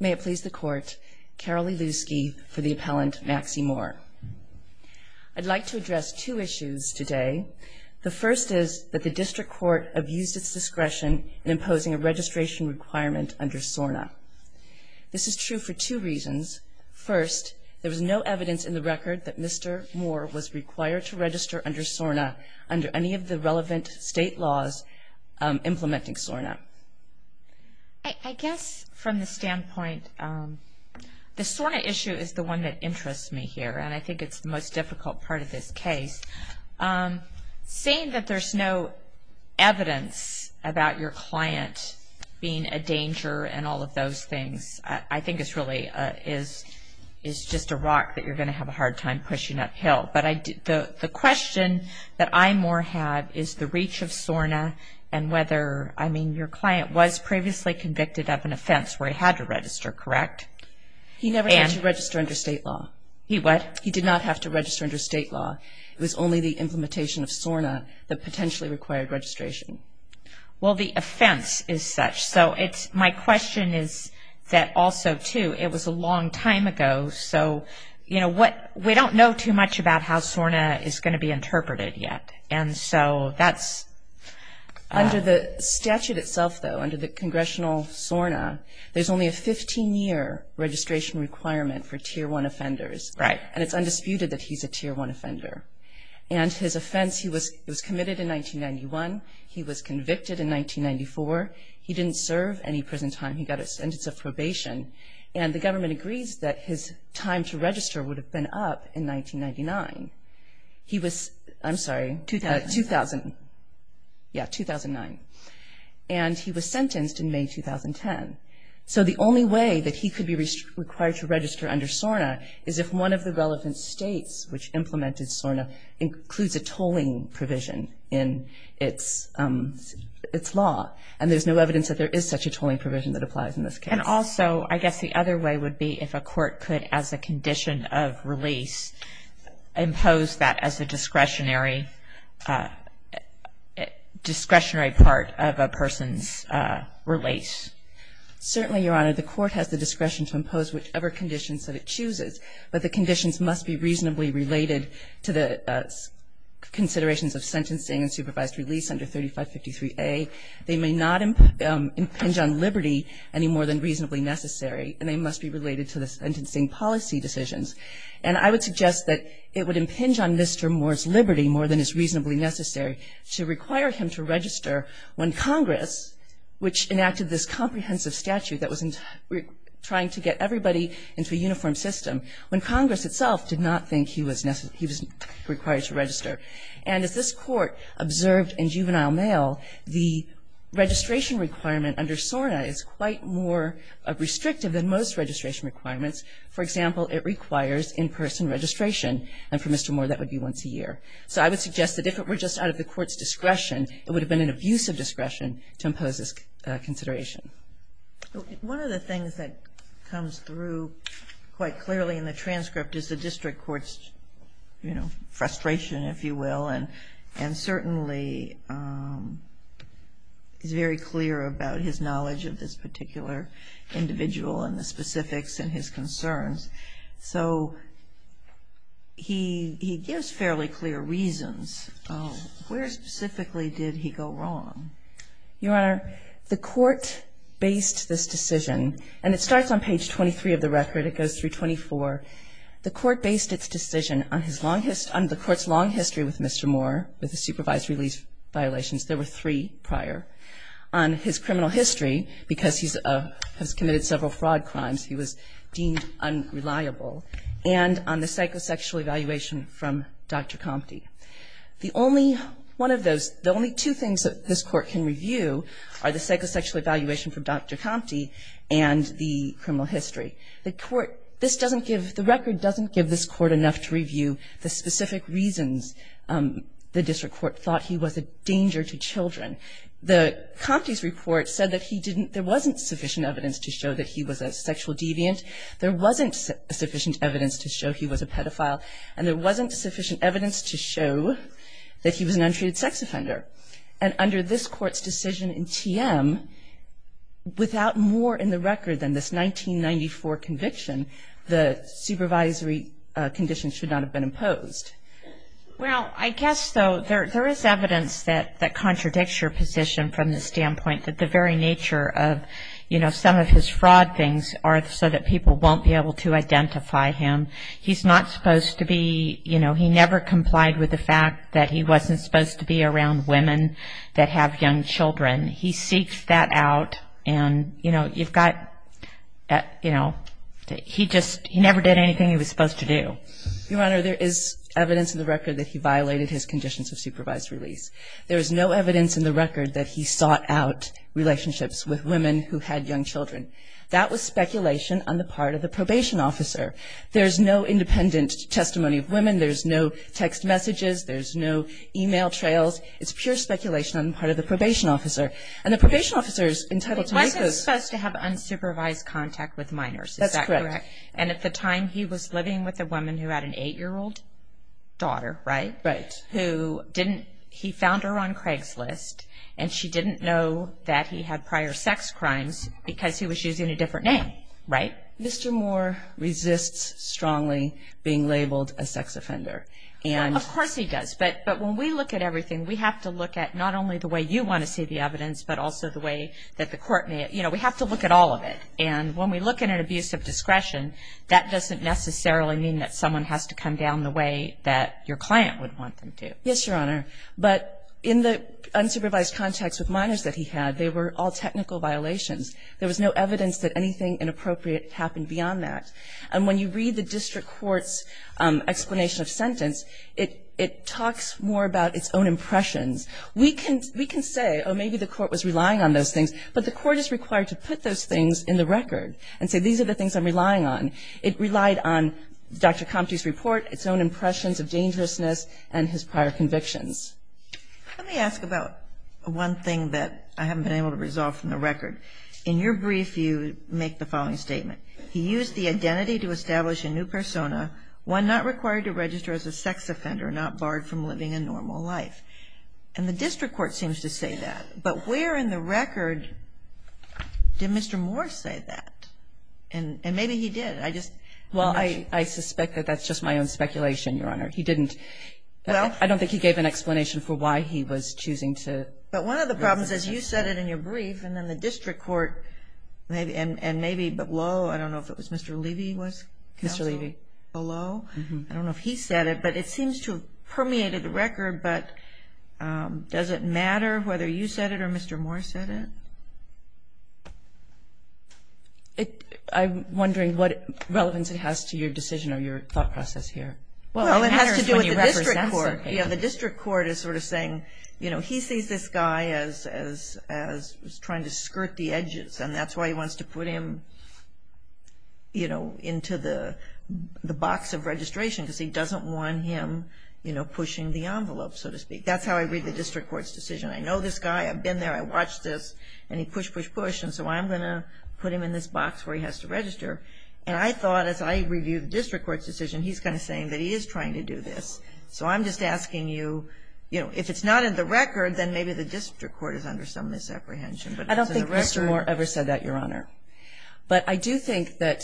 May it please the court, Carolee Lusky for the appellant Maxie Moore. I'd like to address two issues today. The first is that the district court abused its discretion in imposing a registration requirement under SORNA. This is true for two reasons. First, there was no evidence in the record that Mr. Moore was required to register under SORNA under any of the relevant state laws implementing SORNA. I guess from the standpoint, the SORNA issue is the one that interests me here and I think it's the most difficult part of this case. Seeing that there's no evidence about your client being a danger and all of those things, I think it's really just a rock that you're going to have a hard time pushing uphill. But the question that I more have is the reach of SORNA and whether, I mean, your client was previously convicted of an offense where he had to register, correct? He never had to register under state law. He what? He did not have to register under state law. It was only the implementation of SORNA that potentially required registration. Well, the offense is such. So my question is that also, too, it was a long time ago. So, you know, we don't know too much about how SORNA is going to be interpreted yet. And so that's. Under the statute itself, though, under the Congressional SORNA, there's only a 15-year registration requirement for Tier 1 offenders. Right. And it's undisputed that he's a Tier 1 offender. And his offense, he was committed in 1991. He was convicted in 1994. He didn't serve any prison time. He got a sentence of probation. And the government agrees that his time to register would have been up in 1999. He was. I'm sorry. 2000. 2000. Yeah, 2009. And he was sentenced in May 2010. So the only way that he could be required to register under SORNA is if one of the relevant states which implemented SORNA includes a tolling provision in its law. And there's no evidence that there is such a tolling provision that applies in this case. And also, I guess the other way would be if a court could, as a condition of release, impose that as a discretionary part of a person's release. Certainly, Your Honor. The court has the discretion to impose whichever conditions that it chooses. But the conditions must be reasonably related to the considerations of sentencing and supervised release under 3553A. They may not impinge on liberty any more than reasonably necessary. And they must be related to the sentencing policy decisions. And I would suggest that it would impinge on Mr. Moore's liberty more than is reasonably necessary to require him to register when Congress, which enacted this comprehensive statute that was trying to get everybody into a uniform system, And as this Court observed in Juvenile Mail, the registration requirement under SORNA is quite more restrictive than most registration requirements. For example, it requires in-person registration. And for Mr. Moore, that would be once a year. So I would suggest that if it were just out of the Court's discretion, it would have been an abusive discretion to impose this consideration. One of the things that comes through quite clearly in the transcript is the district court's, you know, frustration, if you will, and certainly is very clear about his knowledge of this particular individual and the specifics and his concerns. So he gives fairly clear reasons. Where specifically did he go wrong? Your Honor, the Court based this decision, and it starts on page 23 of the record. It goes through 24. The Court based its decision on the Court's long history with Mr. Moore, with the supervised release violations. There were three prior. On his criminal history, because he has committed several fraud crimes, he was deemed unreliable. And on the psychosexual evaluation from Dr. Compte. The only two things that this Court can review are the psychosexual evaluation from Dr. Compte and the criminal history. The Court, this doesn't give, the record doesn't give this Court enough to review the specific reasons the district court thought he was a danger to children. The Compte's report said that he didn't, there wasn't sufficient evidence to show that he was a sexual deviant. There wasn't sufficient evidence to show he was a pedophile. And there wasn't sufficient evidence to show that he was an untreated sex offender. And under this Court's decision in TM, without more in the record than this 1994 conviction, the supervisory conditions should not have been imposed. Well, I guess, though, there is evidence that contradicts your position from the standpoint that the very nature of, you know, some of his fraud things are so that people won't be able to identify him. He's not supposed to be, you know, he never complied with the fact that he wasn't supposed to be around women that have young children. He seeks that out and, you know, you've got, you know, he just, he never did anything he was supposed to do. Your Honor, there is evidence in the record that he violated his conditions of supervised release. There is no evidence in the record that he sought out relationships with women who had young children. That was speculation on the part of the probation officer. There is no independent testimony of women. There's no text messages. There's no e-mail trails. It's pure speculation on the part of the probation officer. And the probation officer is entitled to make those. He wasn't supposed to have unsupervised contact with minors, is that correct? That's correct. And at the time, he was living with a woman who had an 8-year-old daughter, right? Right. Who didn't, he found her on Craigslist, and she didn't know that he had prior sex crimes because he was using a different name, right? Mr. Moore resists strongly being labeled a sex offender. Of course he does, but when we look at everything, we have to look at not only the way you want to see the evidence, but also the way that the court may, you know, we have to look at all of it. And when we look at an abuse of discretion, that doesn't necessarily mean that someone has to come down the way that your client would want them to. Yes, Your Honor. But in the unsupervised contacts with minors that he had, they were all technical violations. There was no evidence that anything inappropriate happened beyond that. And when you read the district court's explanation of sentence, it talks more about its own impressions. We can say, oh, maybe the court was relying on those things, but the court is required to put those things in the record and say these are the things I'm relying on. It relied on Dr. Comte's report, its own impressions of dangerousness, and his prior convictions. Let me ask about one thing that I haven't been able to resolve from the record. In your brief, you make the following statement. He used the identity to establish a new persona, one not required to register as a sex offender, not barred from living a normal life. And the district court seems to say that. But where in the record did Mr. Moore say that? And maybe he did. I just don't know. Well, I suspect that that's just my own speculation, Your Honor. He didn't. I don't think he gave an explanation for why he was choosing to. But one of the problems is you said it in your brief, and then the district court, and maybe below, I don't know if it was Mr. Levy. Mr. Levy. Below. I don't know if he said it, but it seems to have permeated the record. But does it matter whether you said it or Mr. Moore said it? I'm wondering what relevance it has to your decision or your thought process here. Well, it has to do with the district court. Yeah, the district court is sort of saying, you know, he sees this guy as trying to skirt the edges, and that's why he wants to put him, you know, into the box of registration because he doesn't want him, you know, pushing the envelope, so to speak. That's how I read the district court's decision. I know this guy. I've been there. I watched this, and he pushed, pushed, pushed. And so I'm going to put him in this box where he has to register. And I thought as I reviewed the district court's decision, he's kind of saying that he is trying to do this. So I'm just asking you, you know, if it's not in the record, then maybe the district court is under some misapprehension. But it's in the record. I don't think Mr. Moore ever said that, Your Honor. But I do think that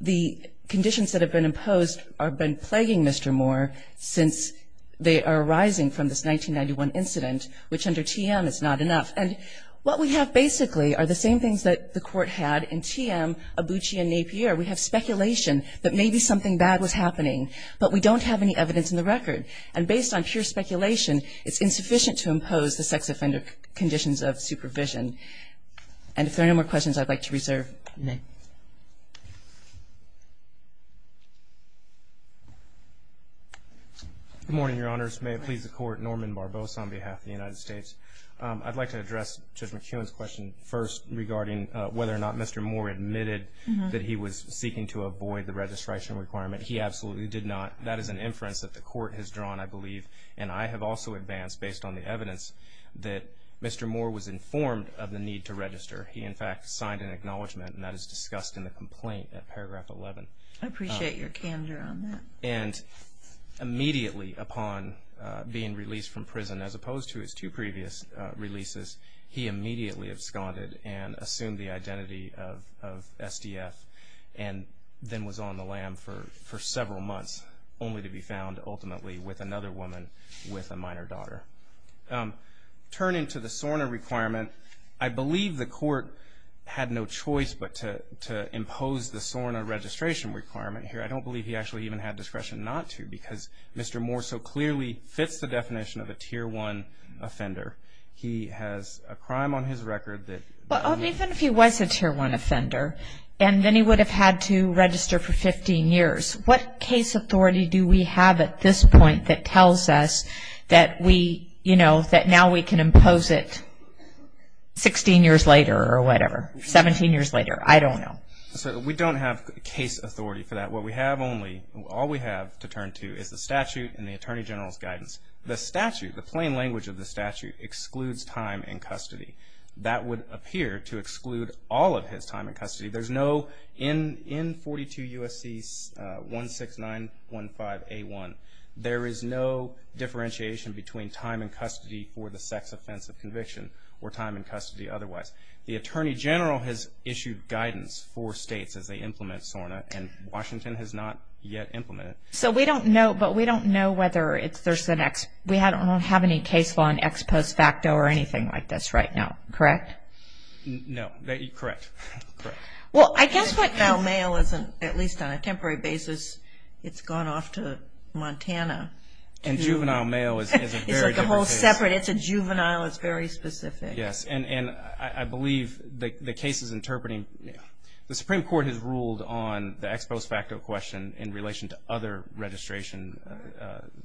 the conditions that have been imposed have been plaguing Mr. Moore since they are arising from this 1991 incident, which under TM is not enough. And what we have basically are the same things that the Court had in TM, Abucci and Napier. We have speculation that maybe something bad was happening, but we don't have any evidence in the record. And based on pure speculation, it's insufficient to impose the sex offender conditions of supervision. And if there are no more questions, I'd like to reserve. Good morning, Your Honors. May it please the Court. Norman Barbosa on behalf of the United States. I'd like to address Judge McEwen's question first regarding whether or not Mr. Moore admitted that he was seeking to avoid the registration requirement. He absolutely did not. That is an inference that the Court has drawn, I believe. And I have also advanced, based on the evidence, that Mr. Moore was informed of the need to register. He, in fact, signed an acknowledgement, and that is discussed in the complaint at paragraph 11. I appreciate your candor on that. And immediately upon being released from prison, as opposed to his two previous releases, he immediately absconded and assumed the identity of SDF and then was on the lam for several months, only to be found ultimately with another woman with a minor daughter. Turning to the SORNA requirement, I believe the Court had no choice but to impose the SORNA registration requirement here. I don't believe he actually even had discretion not to, because Mr. Moore so clearly fits the definition of a Tier 1 offender. He has a crime on his record that he was a Tier 1 offender. And then he would have had to register for 15 years. What case authority do we have at this point that tells us that we, you know, that now we can impose it 16 years later or whatever, 17 years later? I don't know. We don't have case authority for that. What we have only, all we have to turn to is the statute and the Attorney General's guidance. The statute, the plain language of the statute, excludes time in custody. That would appear to exclude all of his time in custody. There's no, in 42 U.S.C. 16915A1, there is no differentiation between time in custody for the sex offense of conviction or time in custody otherwise. The Attorney General has issued guidance for states as they implement SORNA, and Washington has not yet implemented it. So we don't know, but we don't know whether there's the next, we don't have any case law on ex post facto or anything like this right now, correct? No. Correct. Correct. Well, I guess what now mail isn't, at least on a temporary basis, it's gone off to Montana. And juvenile mail is a very different case. It's like a whole separate, it's a juvenile, it's very specific. Yes, and I believe the case is interpreting, the Supreme Court has ruled on the ex post facto question in relation to other registration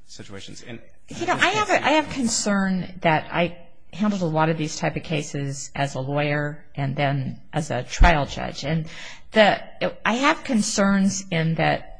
situations. You know, I have concern that I handled a lot of these type of cases as a lawyer and then as a trial judge. And I have concerns in that,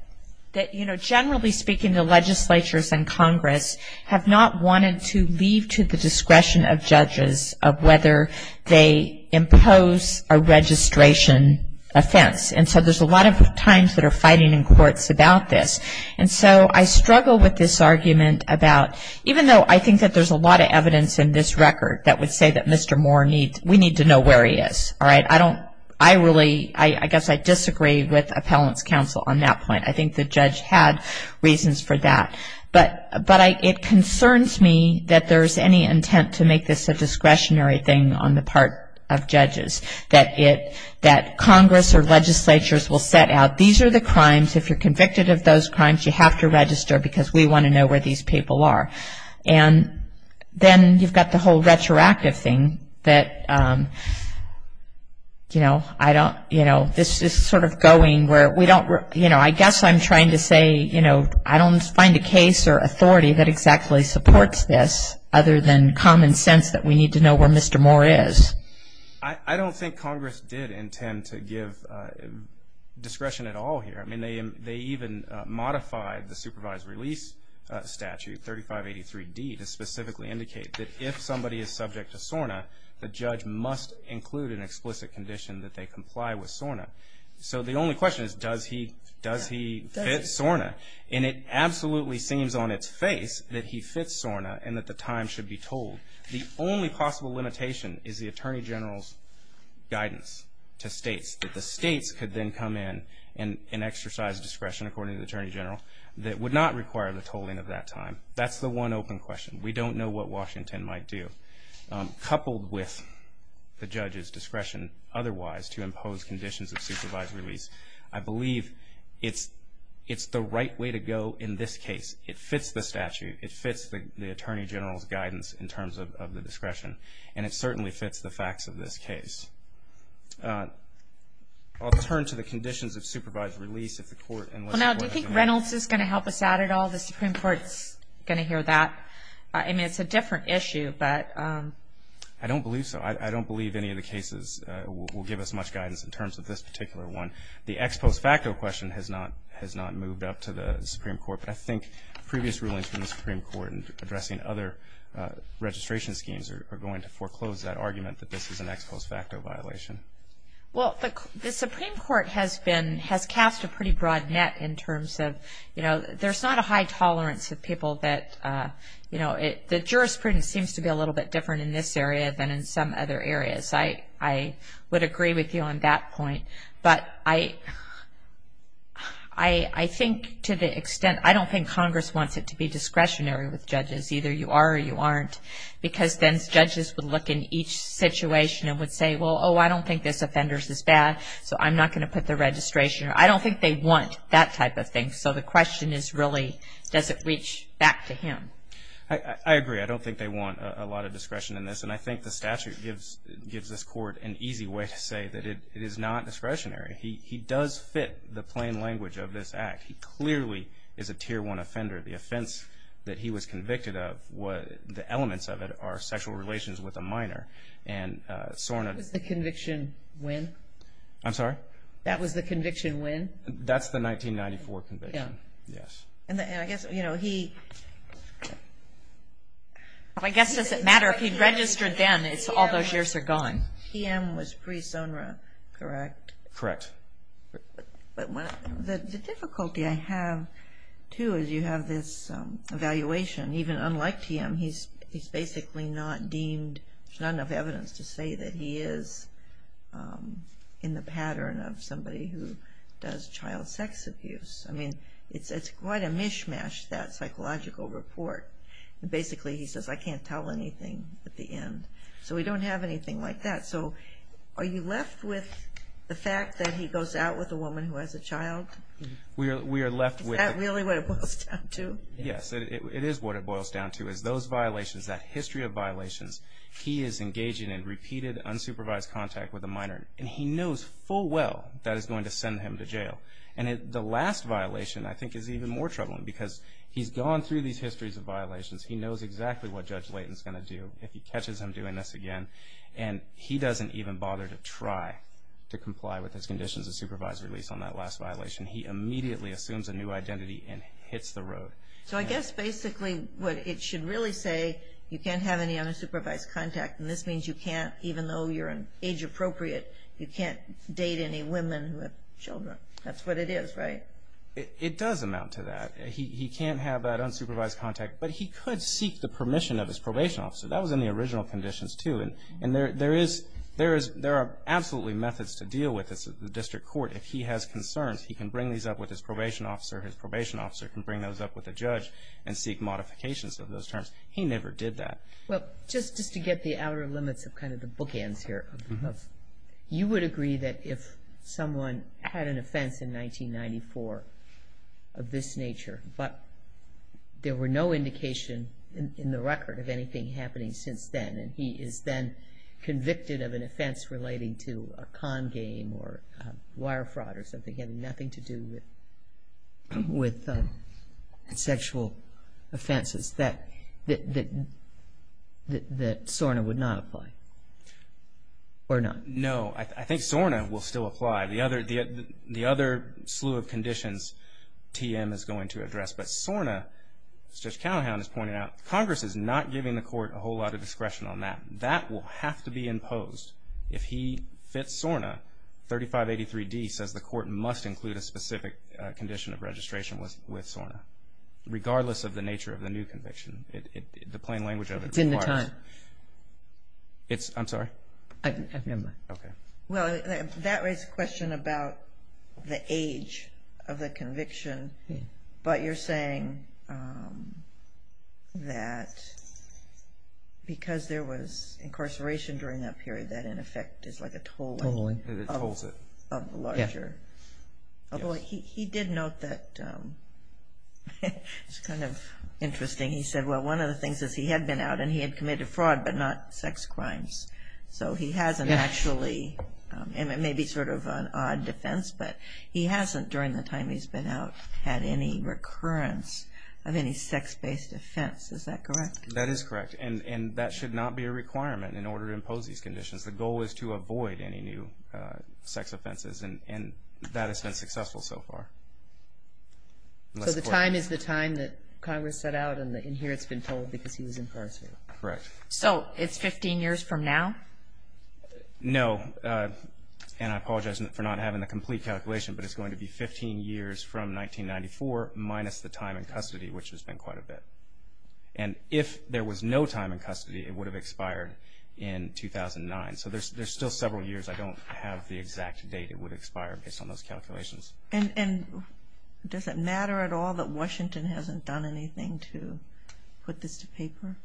you know, generally speaking, the legislatures and Congress have not wanted to leave to the discretion of judges of whether they impose a registration offense. And so there's a lot of times that are fighting in courts about this. And so I struggle with this argument about, even though I think that there's a lot of evidence in this record that would say that Mr. Moore needs, we need to know where he is, all right? I don't, I really, I guess I disagree with appellant's counsel on that point. I think the judge had reasons for that. But it concerns me that there's any intent to make this a discretionary thing on the part of judges, you have to register because we want to know where these people are. And then you've got the whole retroactive thing that, you know, I don't, you know, this is sort of going where we don't, you know, I guess I'm trying to say, you know, I don't find a case or authority that exactly supports this other than common sense that we need to know where Mr. Moore is. I don't think Congress did intend to give discretion at all here. I mean, they even modified the supervised release statute, 3583D, to specifically indicate that if somebody is subject to SORNA, the judge must include an explicit condition that they comply with SORNA. So the only question is, does he fit SORNA? And it absolutely seems on its face that he fits SORNA and that the time should be told. The only possible limitation is the Attorney General's guidance to states, that the states could then come in and exercise discretion, according to the Attorney General, that would not require the tolling of that time. That's the one open question. We don't know what Washington might do. Coupled with the judge's discretion otherwise to impose conditions of supervised release, I believe it's the right way to go in this case. It fits the statute. It fits the Attorney General's guidance in terms of the discretion. And it certainly fits the facts of this case. I'll turn to the conditions of supervised release if the Court enlists what I think. Well, now, do you think Reynolds is going to help us out at all? The Supreme Court is going to hear that. I mean, it's a different issue, but... I don't believe so. I don't believe any of the cases will give us much guidance in terms of this particular one. The ex post facto question has not moved up to the Supreme Court, but I think previous rulings from the Supreme Court in addressing other registration schemes are going to foreclose that argument that this is an ex post facto violation. Well, the Supreme Court has been, has cast a pretty broad net in terms of, you know, there's not a high tolerance of people that, you know, the jurisprudence seems to be a little bit different in this area than in some other areas. I would agree with you on that point. But I think to the extent, I don't think Congress wants it to be discretionary with judges, either you are or you aren't, because then judges would look in each situation and would say, well, oh, I don't think this offenders is bad, so I'm not going to put the registration. I don't think they want that type of thing. So the question is really, does it reach back to him? I agree. I don't think they want a lot of discretion in this, and I think the statute gives this court an easy way to say that it is not discretionary. He does fit the plain language of this act. He clearly is a Tier 1 offender. The offense that he was convicted of, the elements of it are sexual relations with a minor. And SORNA. Was the conviction when? I'm sorry? That was the conviction when? That's the 1994 conviction, yes. I guess it doesn't matter if he registered then, all those years are gone. TM was pre-SORNA, correct? Correct. The difficulty I have, too, is you have this evaluation, even unlike TM, he's basically not deemed, there's not enough evidence to say that he is in the pattern of somebody who does child sex abuse. I mean, it's quite a mishmash, that psychological report. Basically, he says, I can't tell anything at the end. So we don't have anything like that. So are you left with the fact that he goes out with a woman who has a child? Is that really what it boils down to? Yes, it is what it boils down to, is those violations, that history of violations. He is engaging in repeated, unsupervised contact with a minor, and he knows full well that is going to send him to jail. And the last violation, I think, is even more troubling, because he's gone through these histories of violations. He knows exactly what Judge Layton is going to do if he catches him doing this again, and he doesn't even bother to try to comply with his conditions of supervised release on that last violation. He immediately assumes a new identity and hits the road. So I guess basically what it should really say, you can't have any unsupervised contact, and this means you can't, even though you're age appropriate, you can't date any women who have children. That's what it is, right? It does amount to that. He can't have that unsupervised contact, but he could seek the permission of his probation officer. That was in the original conditions, too, and there are absolutely methods to deal with this at the district court. If he has concerns, he can bring these up with his probation officer. His probation officer can bring those up with a judge and seek modifications of those terms. He never did that. Well, just to get the outer limits of kind of the bookends here, you would agree that if someone had an offense in 1994 of this nature, but there were no indication in the record of anything happening since then, and he is then convicted of an offense relating to a con game or wire fraud or something, having nothing to do with sexual offenses, that SORNA would not apply or not? No. I think SORNA will still apply. The other slew of conditions TM is going to address, but SORNA, as Judge Callahan is pointing out, Congress is not giving the court a whole lot of discretion on that. That will have to be imposed. If he fits SORNA, 3583D says the court must include a specific condition of registration with SORNA, regardless of the nature of the new conviction. The plain language of it requires. It's in the time. I'm sorry? I didn't hear that. Okay. Well, that raises a question about the age of the conviction, but you're saying that because there was incarceration during that period, that in effect is like a tolling of the larger. Although he did note that it's kind of interesting. He said, well, one of the things is he had been out, and he had committed fraud, but not sex crimes. So he hasn't actually, and it may be sort of an odd defense, but he hasn't during the time he's been out had any recurrence of any sex-based offense. Is that correct? That is correct. And that should not be a requirement in order to impose these conditions. The goal is to avoid any new sex offenses, and that has been successful so far. So the time is the time that Congress set out, and here it's been told because he was incarcerated. Correct. So it's 15 years from now? No. And I apologize for not having the complete calculation, but it's going to be 15 years from 1994 minus the time in custody, which has been quite a bit. And if there was no time in custody, it would have expired in 2009. So there's still several years. I don't have the exact date it would expire based on those calculations. And does it matter at all that Washington hasn't done anything to put this to paper?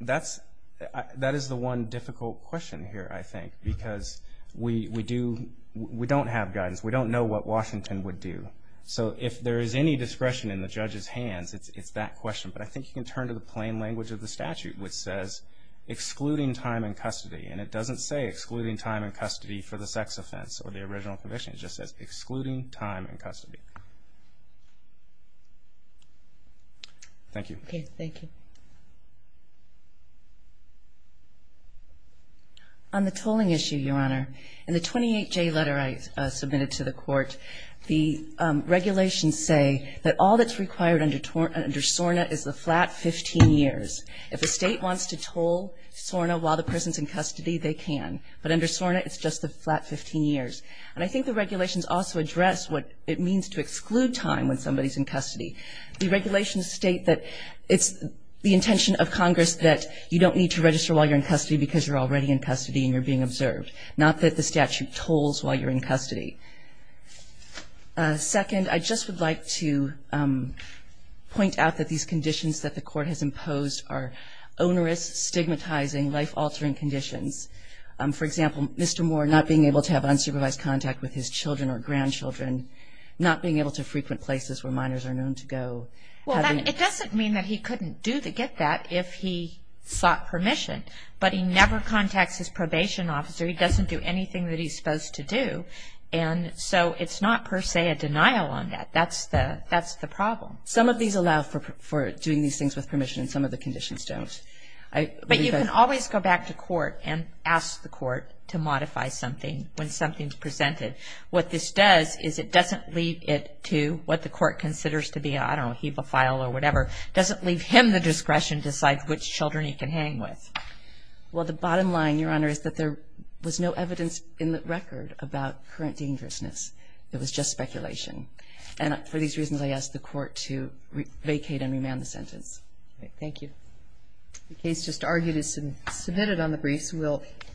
That is the one difficult question here, I think, because we don't have guidance. We don't know what Washington would do. So if there is any discretion in the judge's hands, it's that question. But I think you can turn to the plain language of the statute, which says excluding time in custody. And it doesn't say excluding time in custody for the sex offense or the original conviction. It just says excluding time in custody. Thank you. Okay, thank you. On the tolling issue, Your Honor, in the 28J letter I submitted to the court, the regulations say that all that's required under SORNA is the flat 15 years. If a state wants to toll SORNA while the person is in custody, they can. But under SORNA, it's just the flat 15 years. And I think the regulations also address what it means to exclude time when somebody is in custody. The regulations state that it's the intention of Congress that you don't need to register while you're in custody because you're already in custody and you're being observed, not that the statute tolls while you're in custody. Second, I just would like to point out that these conditions that the court has imposed are onerous, stigmatizing, life-altering conditions. For example, Mr. Moore not being able to have unsupervised contact with his children or grandchildren, not being able to frequent places where minors are known to go. It doesn't mean that he couldn't get that if he sought permission, but he never contacts his probation officer. He doesn't do anything that he's supposed to do. And so it's not per se a denial on that. That's the problem. Some of these allow for doing these things with permission and some of the conditions don't. But you can always go back to court and ask the court to modify something when something's presented. What this does is it doesn't leave it to what the court considers to be, I don't know, a heapofile or whatever. It doesn't leave him the discretion to decide which children he can hang with. Well, the bottom line, Your Honor, is that there was no evidence in the record about current dangerousness. It was just speculation. And for these reasons, I ask the court to vacate and remand the sentence. Thank you. The case just argued is submitted on the briefs.